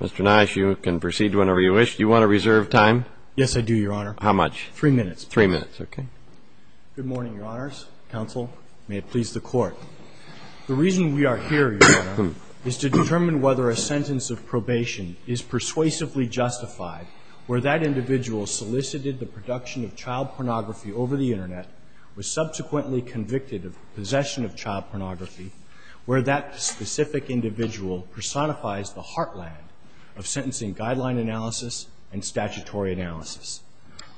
Mr. Nash, you can proceed whenever you wish. Do you want to reserve time? Yes, I do, Your Honor. How much? Three minutes. Three minutes, okay. Good morning, Your Honors. Counsel, may it please the Court. The reason we are here, Your Honor, is to determine whether a sentence of probation is persuasively justified where that individual solicited the production of child pornography over the Internet, was subsequently convicted of possession of child pornography, where that specific individual personifies the heartland of sentencing guideline analysis and statutory analysis.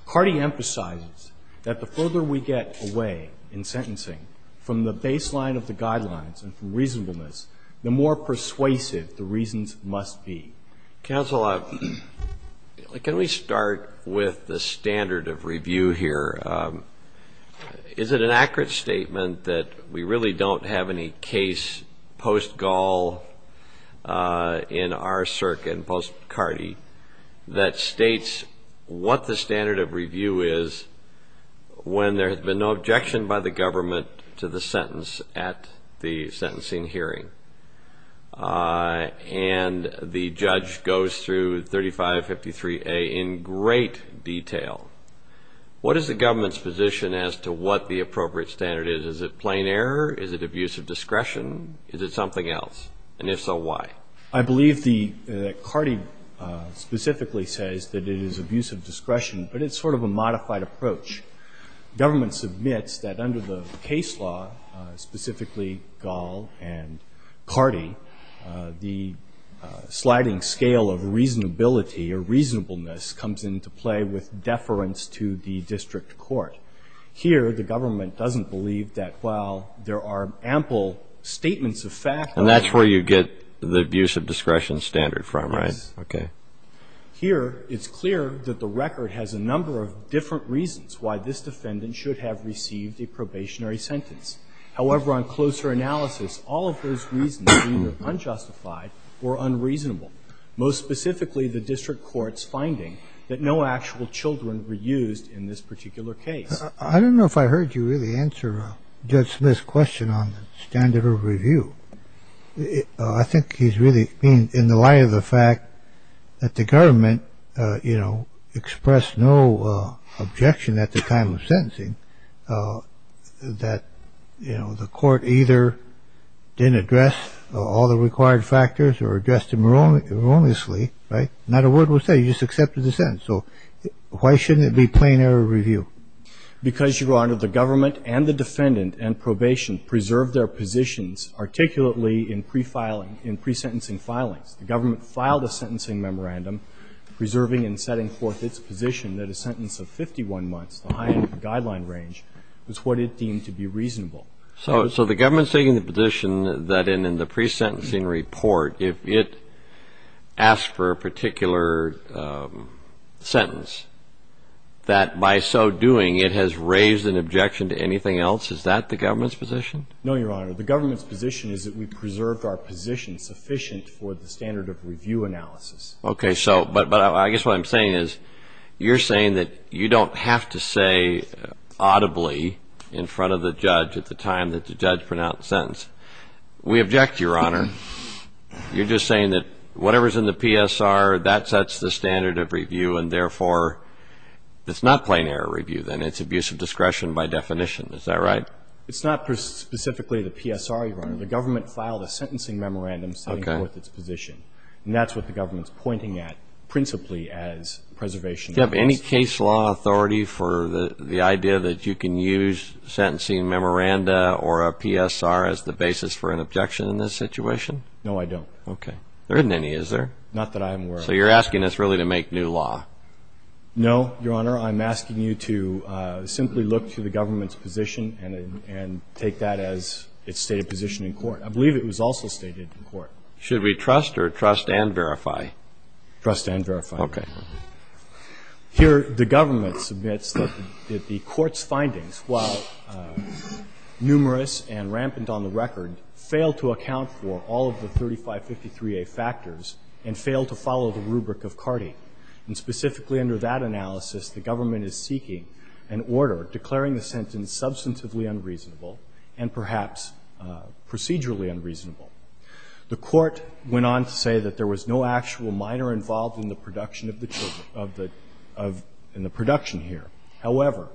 Carty emphasizes that the further we get away in sentencing from the baseline of the guidelines and from reasonableness, the more persuasive the reasons must be. Counsel, can we start with the standard of review here? Is it an accurate statement that we really don't have any case post-Gall in our circuit and post-Carty that states what the standard of review is when there has been no objection by the government to the sentence at the sentencing hearing? And the judge goes through 3553A in great detail. What is the government's position as to what the appropriate standard is? Is it plain error? Is it abuse of discretion? Is it something else? And if so, why? I believe that Carty specifically says that it is abuse of discretion, but it's sort of a modified approach. The government submits that under the case law, specifically Gall and Carty, the sliding scale of reasonability or reasonableness comes into play with deference to the district court. Here, the government doesn't believe that while there are ample statements of fact... And that's where you get the abuse of discretion standard from, right? Yes. Okay. Here, it's clear that the record has a number of different reasons why this defendant should have received a probationary sentence. However, on closer analysis, all of those reasons are either unjustified or unreasonable, most specifically the district court's finding that no actual children were used in this particular case. I don't know if I heard you really answer Judge Smith's question on the standard of review. I think he's really in the light of the fact that the government, you know, expressed no objection at the time of sentencing that, you know, the court either didn't address all the required factors or addressed them wrongly, right? Not a word was said. He just accepted the sentence. So why shouldn't it be plain error review? Because, Your Honor, the government and the defendant and probation preserved their positions articulately in pre-filing, in pre-sentencing filings. The government filed a sentencing memorandum preserving and setting forth its position that a sentence of 51 months, the high end of the guideline range, was what it deemed to be reasonable. So the government's taking the position that in the pre-sentencing report, if it asked for a particular sentence, that by so doing it has raised an objection to anything else? Is that the government's position? No, Your Honor. The government's position is that we preserved our position sufficient for the standard of review analysis. Okay. So, but I guess what I'm saying is, you're saying that you don't have to say audibly in front of the judge at the time that the judge pronounced the sentence. We object, Your Honor. You're just saying that whatever's in the PSR, that sets the standard of review and therefore, it's not plain error review then. It's abuse of discretion by definition. Is that right? It's not specifically the PSR, Your Honor. The government filed a sentencing memorandum setting forth its position. And that's what the government's pointing at principally as preservation. Do you have any case law authority for the idea that you can use sentencing memoranda or a PSR as the basis for an objection in this situation? No, I don't. Okay. There isn't any, is there? Not that I'm aware of. So you're asking us really to make new law? No, Your Honor. I'm asking you to simply look to the government's position and take that as its stated position in court. I believe it was also stated in court. Should we trust or trust and verify? Trust and verify. Okay. Here, the government submits that the court's findings, while numerous and rampant on the record, fail to account for all of the 3553A factors and fail to follow the rubric of CARTI. And specifically under that analysis, the government is seeking an order declaring the sentence substantively unreasonable and perhaps procedurally unreasonable. The court went on to say that there was no actual minor involved in the production here. However,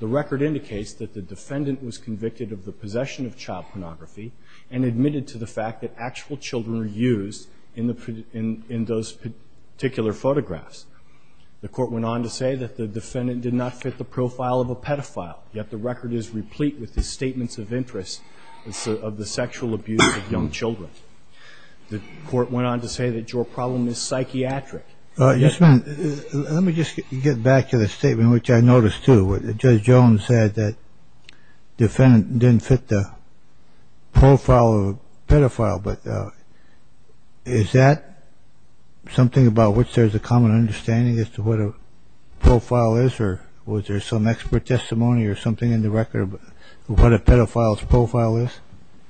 the record indicates that the defendant was convicted of the possession of child pornography and admitted to the fact that actual children were used in those particular photographs. The court went on to say that the defendant did not fit the profile of a pedophile, yet the record is replete with his statements of interest of the sexual abuse of young children. The court went on to say that your problem is psychiatric. Yes, ma'am. Let me just get back to the statement, which I noticed too. Judge Jones said that the defendant didn't fit the profile of a pedophile. But is that something about which there's a common understanding as to what a profile is? Or was there some expert testimony or something in the record of what a pedophile's profile is?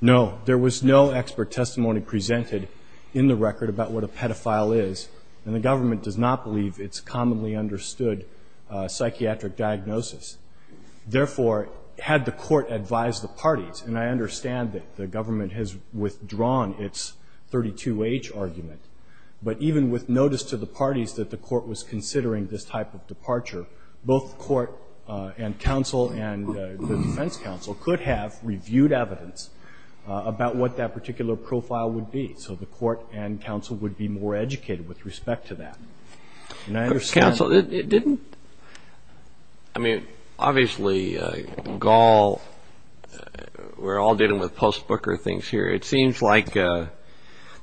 No. There was no expert testimony presented in the record about what a pedophile is, and the government does not believe it's commonly understood psychiatric diagnosis. Therefore, had the court advised the parties, and I understand that the government has withdrawn its 32H argument, but even with notice to the parties that the court was considering this type of departure, both the court and counsel and the defense counsel could have reviewed evidence about what that particular profile would be. So the court and counsel would be more educated with respect to that. And I understand... But counsel, it didn't... I mean, obviously, Gall... We're all dealing with post-Booker things here. It seems like the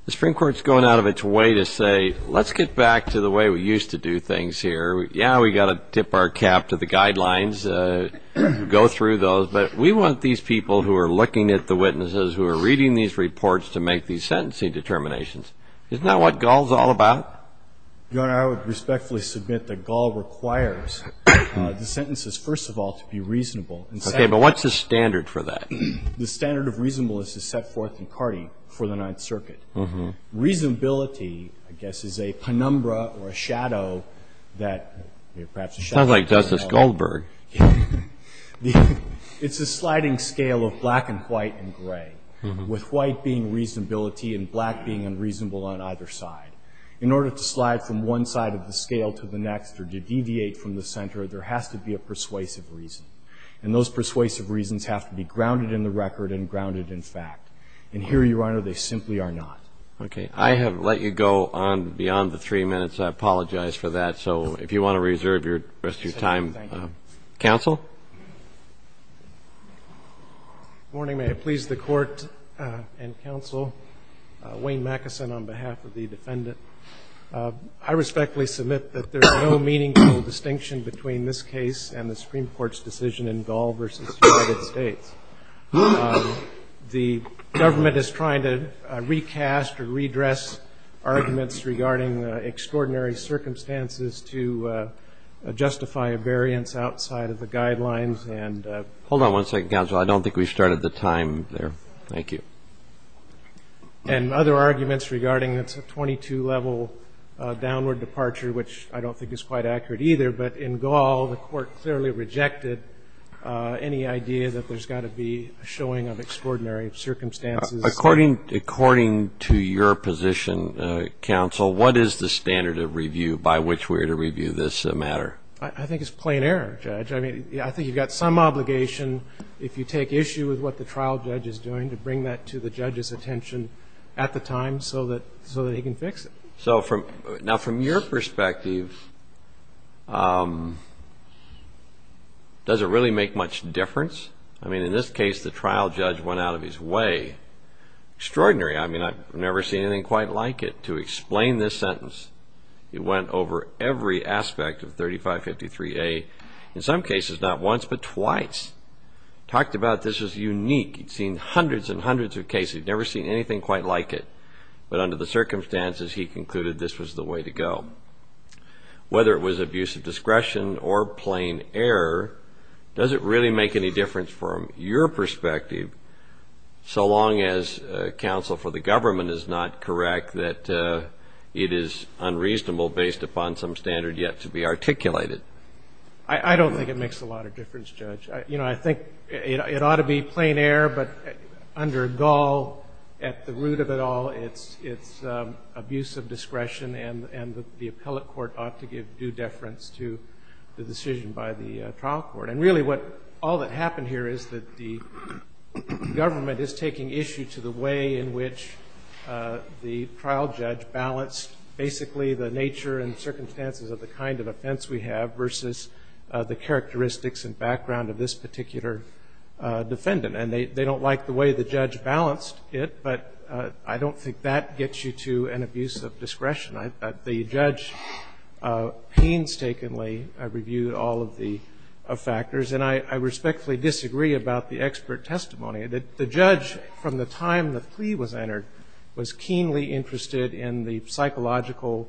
Supreme Court's going out of its way to say, let's get back to the way we used to do things here. Yeah, we got to tip our cap to the guidelines, go through those, but we want these people who are looking at the court to make these sentencing determinations. Isn't that what Gall's all about? Your Honor, I would respectfully submit that Gall requires the sentences, first of all, to be reasonable. Okay. But what's the standard for that? The standard of reasonableness is set forth in Carty for the Ninth Circuit. Reasonability, I guess, is a penumbra or a shadow that perhaps... Sounds like Justice Goldberg. It's a sliding scale of black and white and gray, with white being reasonability and black being unreasonable on either side. In order to slide from one side of the scale to the next or to deviate from the center, there has to be a persuasive reason. And those persuasive reasons have to be grounded in the record and grounded in fact. And here, Your Honor, they simply are not. Okay. I have let you go on beyond the three minutes. I apologize for that. So if you want to reserve the rest of your time, counsel? Good morning. May it please the Court and counsel. Wayne Mackeson on behalf of the defendant. I respectfully submit that there is no meaningful distinction between this case and the Supreme Court's decision in Gall v. United States. The government is trying to recast or redress arguments regarding extraordinary circumstances to justify a variance outside of the guidelines and... Hold on one second, counsel. I don't think we've started the time there. Thank you. And other arguments regarding a 22-level downward departure, which I don't think is quite accurate either. But in Gall, the Court clearly rejected any idea that there's got to be a showing of extraordinary circumstances. According to your position, counsel, what is the standard of review by which we are to review this matter? I think it's plain error, Judge. I mean, I think you've got some obligation, if you take issue with what the trial judge is doing, to bring that to the judge's attention at the time so that he can fix it. So now from your perspective, does it really make much difference? I mean, in this case, the trial judge went out of his way. Extraordinary. I mean, I've never seen anything quite like it. To explain this sentence, he went over every aspect of 3553A, in some cases not once but twice. Talked about this as unique. He'd seen hundreds and hundreds of cases. He'd never seen anything quite like it. But under the circumstances, he concluded this was the way to go. Whether it was abuse of discretion or plain error, does it really make any difference from your perspective, so long as counsel for the government is not correct that it is unreasonable based upon some standard yet to be articulated? I don't think it makes a lot of difference, Judge. You know, I think it ought to be plain error, but under Gull, at the root of it all, it's abuse of discretion, and the appellate court ought to give due deference to the decision by the trial court. And really, what all that happened here is that the government is taking issue to the way in which the trial judge balanced basically the nature and circumstances of the kind of offense we have versus the characteristics and background of this particular defendant. And they don't like the way the judge balanced it, but I don't think that gets you to an abuse of discretion. The judge painstakingly reviewed all of the factors. And I respectfully disagree about the expert testimony. The judge, from the time the plea was entered, was keenly interested in the psychological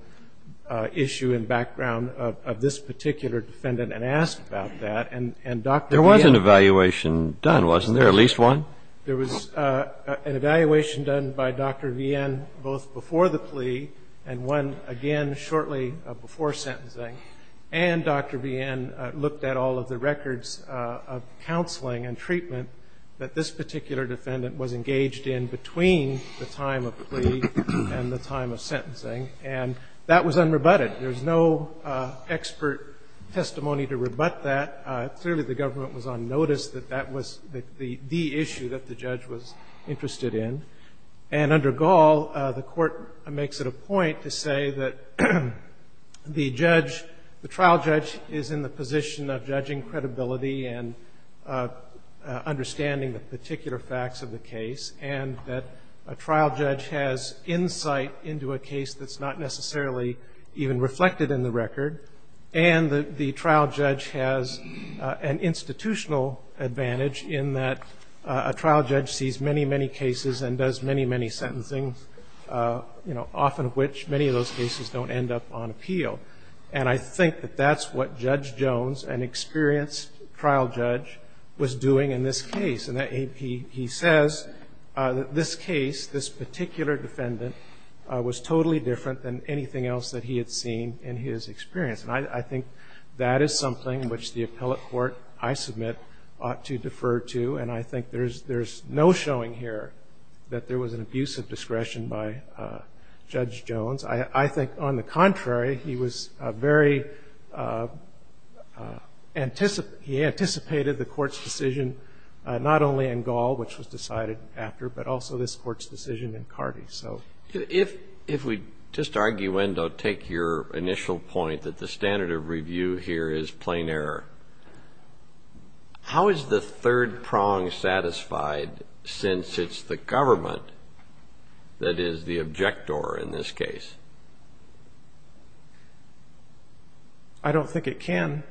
issue and background of this particular defendant and asked about that. And Dr. Vien — There was an evaluation done, wasn't there, at least one? There was an evaluation done by Dr. Vien both before the plea and one, again, shortly before sentencing. And Dr. Vien looked at all of the records of counseling and treatment that this particular defendant was engaged in between the time of plea and the time of sentencing. And that was unrebutted. There's no expert testimony to rebut that. Clearly, the government was on notice that that was the issue that the judge was interested in. And under Gall, the Court makes it a point to say that the judge, the trial judge is in the position of judging credibility and understanding the particular facts of the case, and that a trial judge has insight into a case that's not necessarily even reflected in the record, and that the trial judge has an institutional advantage in that a trial judge sees many, many cases and does many, many sentencing, you know, often of which many of those cases don't end up on appeal. And I think that that's what Judge Jones, an experienced trial judge, was doing in this case. And he says that this case, this particular defendant, was totally different than anything else that he had seen in his experience. And I think that is something which the appellate court, I submit, ought to defer to. And I think there's no showing here that there was an abuse of discretion by Judge Jones. I think, on the contrary, he was very anticipated the Court's decision, not only in Gall, which was decided after, but also this Court's decision in Carty. So. If we just arguendo, take your initial point that the standard of review here is that it is plain error, how is the third prong satisfied since it's the government that is the objector in this case? I don't think it can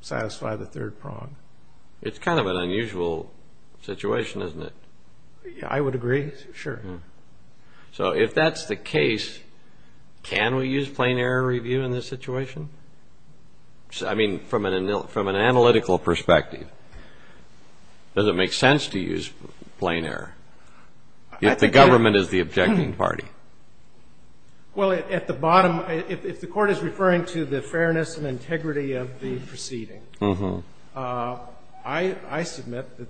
satisfy the third prong. It's kind of an unusual situation, isn't it? I would agree, sure. So if that's the case, can we use plain error review in this situation? I mean, from an analytical perspective, does it make sense to use plain error if the government is the objecting party? Well, at the bottom, if the Court is referring to the fairness and integrity of the proceeding, I submit that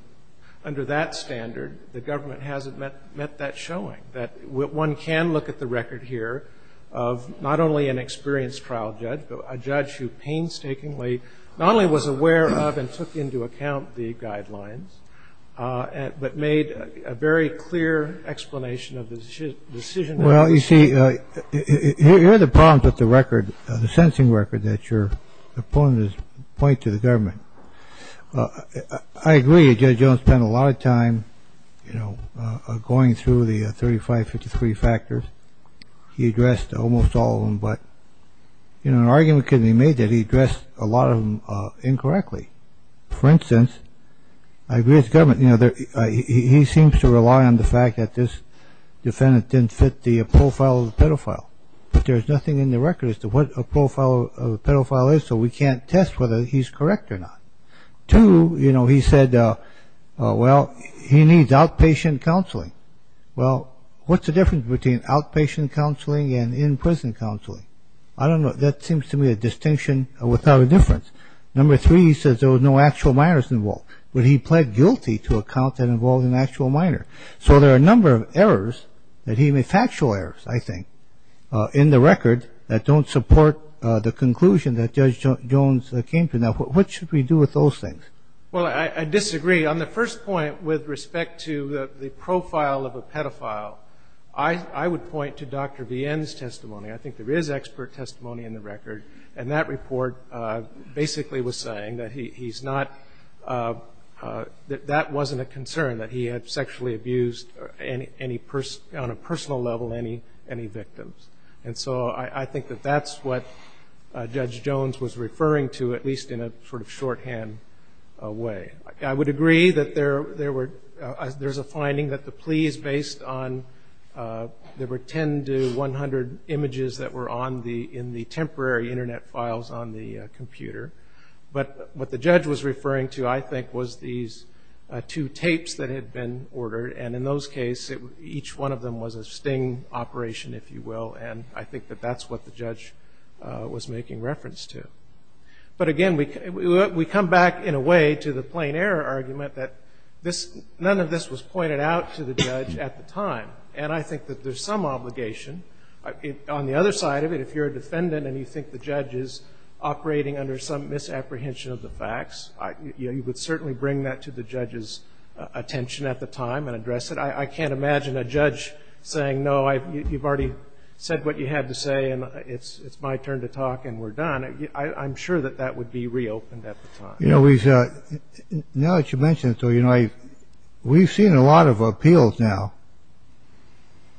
under that standard, the government hasn't met that standard. And I think that's what we're showing, that one can look at the record here of not only an experienced trial judge, but a judge who painstakingly not only was aware of and took into account the guidelines, but made a very clear explanation of the decision. Well, you see, here are the problems with the record, the sentencing record, that your opponents point to the government. I agree that Judge Jones spent a lot of time going through the 35, 53 factors. He addressed almost all of them, but an argument could be made that he addressed a lot of them incorrectly. For instance, I agree with the government. He seems to rely on the fact that this defendant didn't fit the profile of the pedophile. But there's nothing in the record as to what a profile of a pedophile is, so we can't test whether he's correct or not. Two, you know, he said, well, he needs outpatient counseling. Well, what's the difference between outpatient counseling and in-prison counseling? I don't know. That seems to me a distinction without a difference. Number three, he says there was no actual minors involved, but he pled guilty to a count that involved an actual minor. So there are a number of errors, factual errors, I think, in the record that don't support the conclusion that Judge Jones came to. Now, what should we do with those things? Well, I disagree. On the first point with respect to the profile of a pedophile, I would point to Dr. Vienne's testimony. I think there is expert testimony in the record, and that report basically was saying that he's not – that that wasn't a concern, that he had sexually abused any – on a personal level, any victims. And so I think that that's what Judge Jones was referring to, at least in a sort of shorthand way. I would agree that there were – there's a finding that the plea is based on – there were 10 to 100 images that were on the – in the temporary Internet files on the computer. But what the judge was referring to, I think, was these two tapes that had been ordered. And in those cases, each one of them was a sting operation, if you will. And I think that that's what the judge was making reference to. But again, we come back, in a way, to the plain error argument that this – none of this was pointed out to the judge at the time. And I think that there's some obligation. On the other side of it, if you're a defendant and you think the judge is operating under some misapprehension of the facts, you would certainly bring that to the court and address it. I can't imagine a judge saying, no, you've already said what you had to say and it's my turn to talk and we're done. I'm sure that that would be reopened at the time. You know, we've – now that you mention it, though, you know, we've seen a lot of appeals now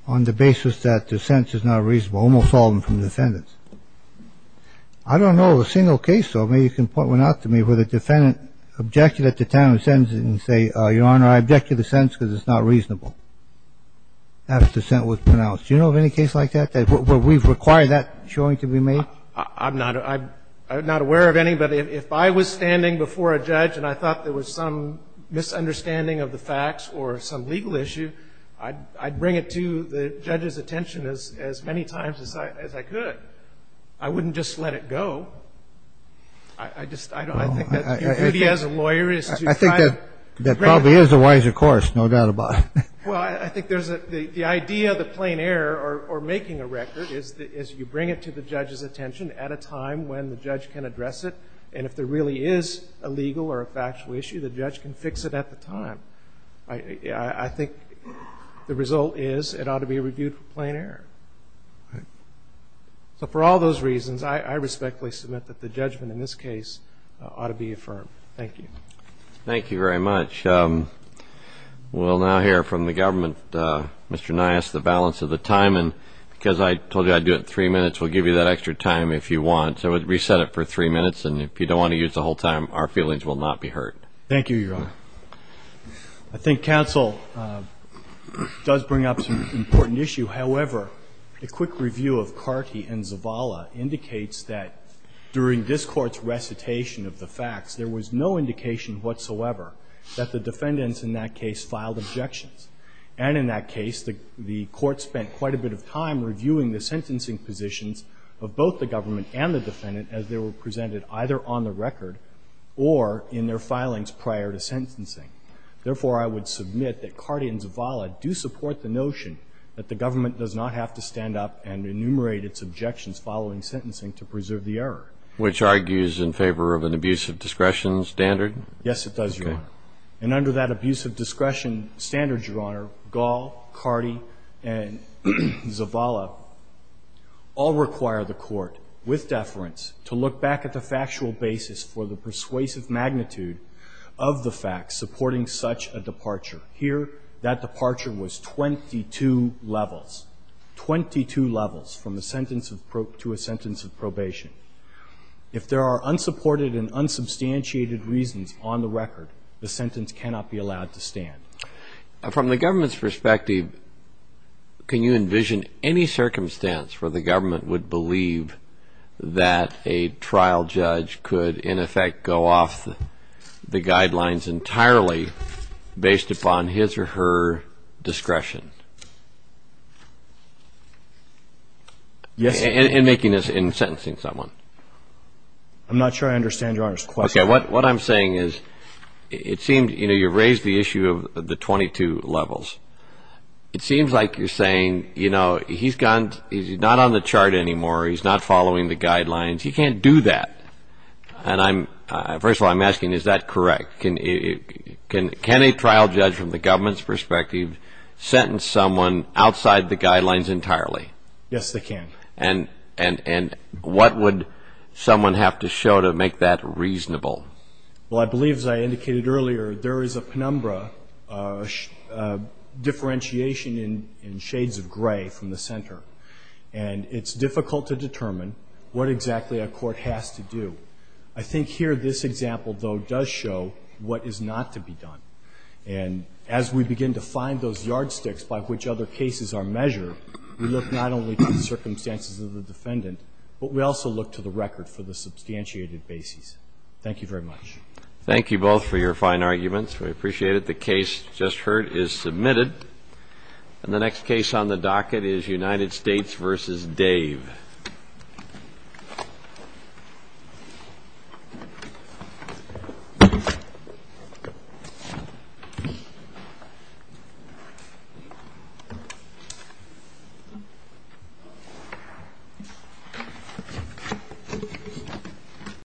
on the basis that the sentence is not reasonable, almost all of them from defendants. I don't know of a single case, though, maybe you can point one out to me, where the defendant objected at the time of the sentence and said, Your Honor, I object to the sentence because it's not reasonable. After the sentence was pronounced. Do you know of any case like that, where we've required that showing to be made? I'm not – I'm not aware of any, but if I was standing before a judge and I thought there was some misunderstanding of the facts or some legal issue, I'd bring it to the judge's attention as many times as I could. I wouldn't just let it go. I just – I think that the duty as a lawyer is to try to bring it to the court. That probably is a wiser course, no doubt about it. Well, I think there's a – the idea of the plain error or making a record is that you bring it to the judge's attention at a time when the judge can address it. And if there really is a legal or a factual issue, the judge can fix it at the time. I think the result is it ought to be reviewed for plain error. So for all those reasons, I respectfully submit that the judgment in this case ought to be affirmed. Thank you. Thank you very much. We'll now hear from the government. Mr. Nias, the balance of the time. And because I told you I'd do it in three minutes, we'll give you that extra time if you want. So we'll reset it for three minutes. And if you don't want to use the whole time, our feelings will not be hurt. Thank you, Your Honor. I think counsel does bring up some important issue. However, a quick review of Carty and Zavala indicates that during this court's recitation of the facts, there was no indication whatsoever that the defendants in that case filed objections. And in that case, the Court spent quite a bit of time reviewing the sentencing positions of both the government and the defendant as they were presented either on the record or in their filings prior to sentencing. Therefore, I would submit that Carty and Zavala do support the notion that the government does not have to stand up and enumerate its objections following sentencing to preserve the error. Which argues in favor of an abuse of discretion standard? Yes, it does, Your Honor. Okay. And under that abuse of discretion standard, Your Honor, Gall, Carty, and Zavala all require the Court, with deference, to look back at the factual basis for the persuasive magnitude of the facts supporting such a departure. Here, that departure was 22 levels, 22 levels from a sentence of to a sentence of probation. If there are unsupported and unsubstantiated reasons on the record, the sentence cannot be allowed to stand. From the government's perspective, can you envision any circumstance where the government would believe that a trial judge could, in effect, go off the guidelines entirely based upon his or her discretion? Yes, Your Honor. In making this, in sentencing someone? I'm not sure I understand Your Honor's question. Okay. What I'm saying is it seems, you know, you raised the issue of the 22 levels. It seems like you're saying, you know, he's not on the chart anymore, he's not following the guidelines. He can't do that. And first of all, I'm asking, is that correct? Can a trial judge, from the government's perspective, sentence someone outside the guidelines entirely? Yes, they can. And what would someone have to show to make that reasonable? Well, I believe, as I indicated earlier, there is a penumbra differentiation in shades of gray from the center. And it's difficult to determine what exactly a court has to do. I think here this example, though, does show what is not to be done. And as we begin to find those yardsticks by which other cases are measured, we look not only to the circumstances of the defendant, but we also look to the record for the substantiated bases. Thank you very much. Thank you both for your fine arguments. We appreciate it. The case just heard is submitted. And the next case on the docket is United States v. Dave.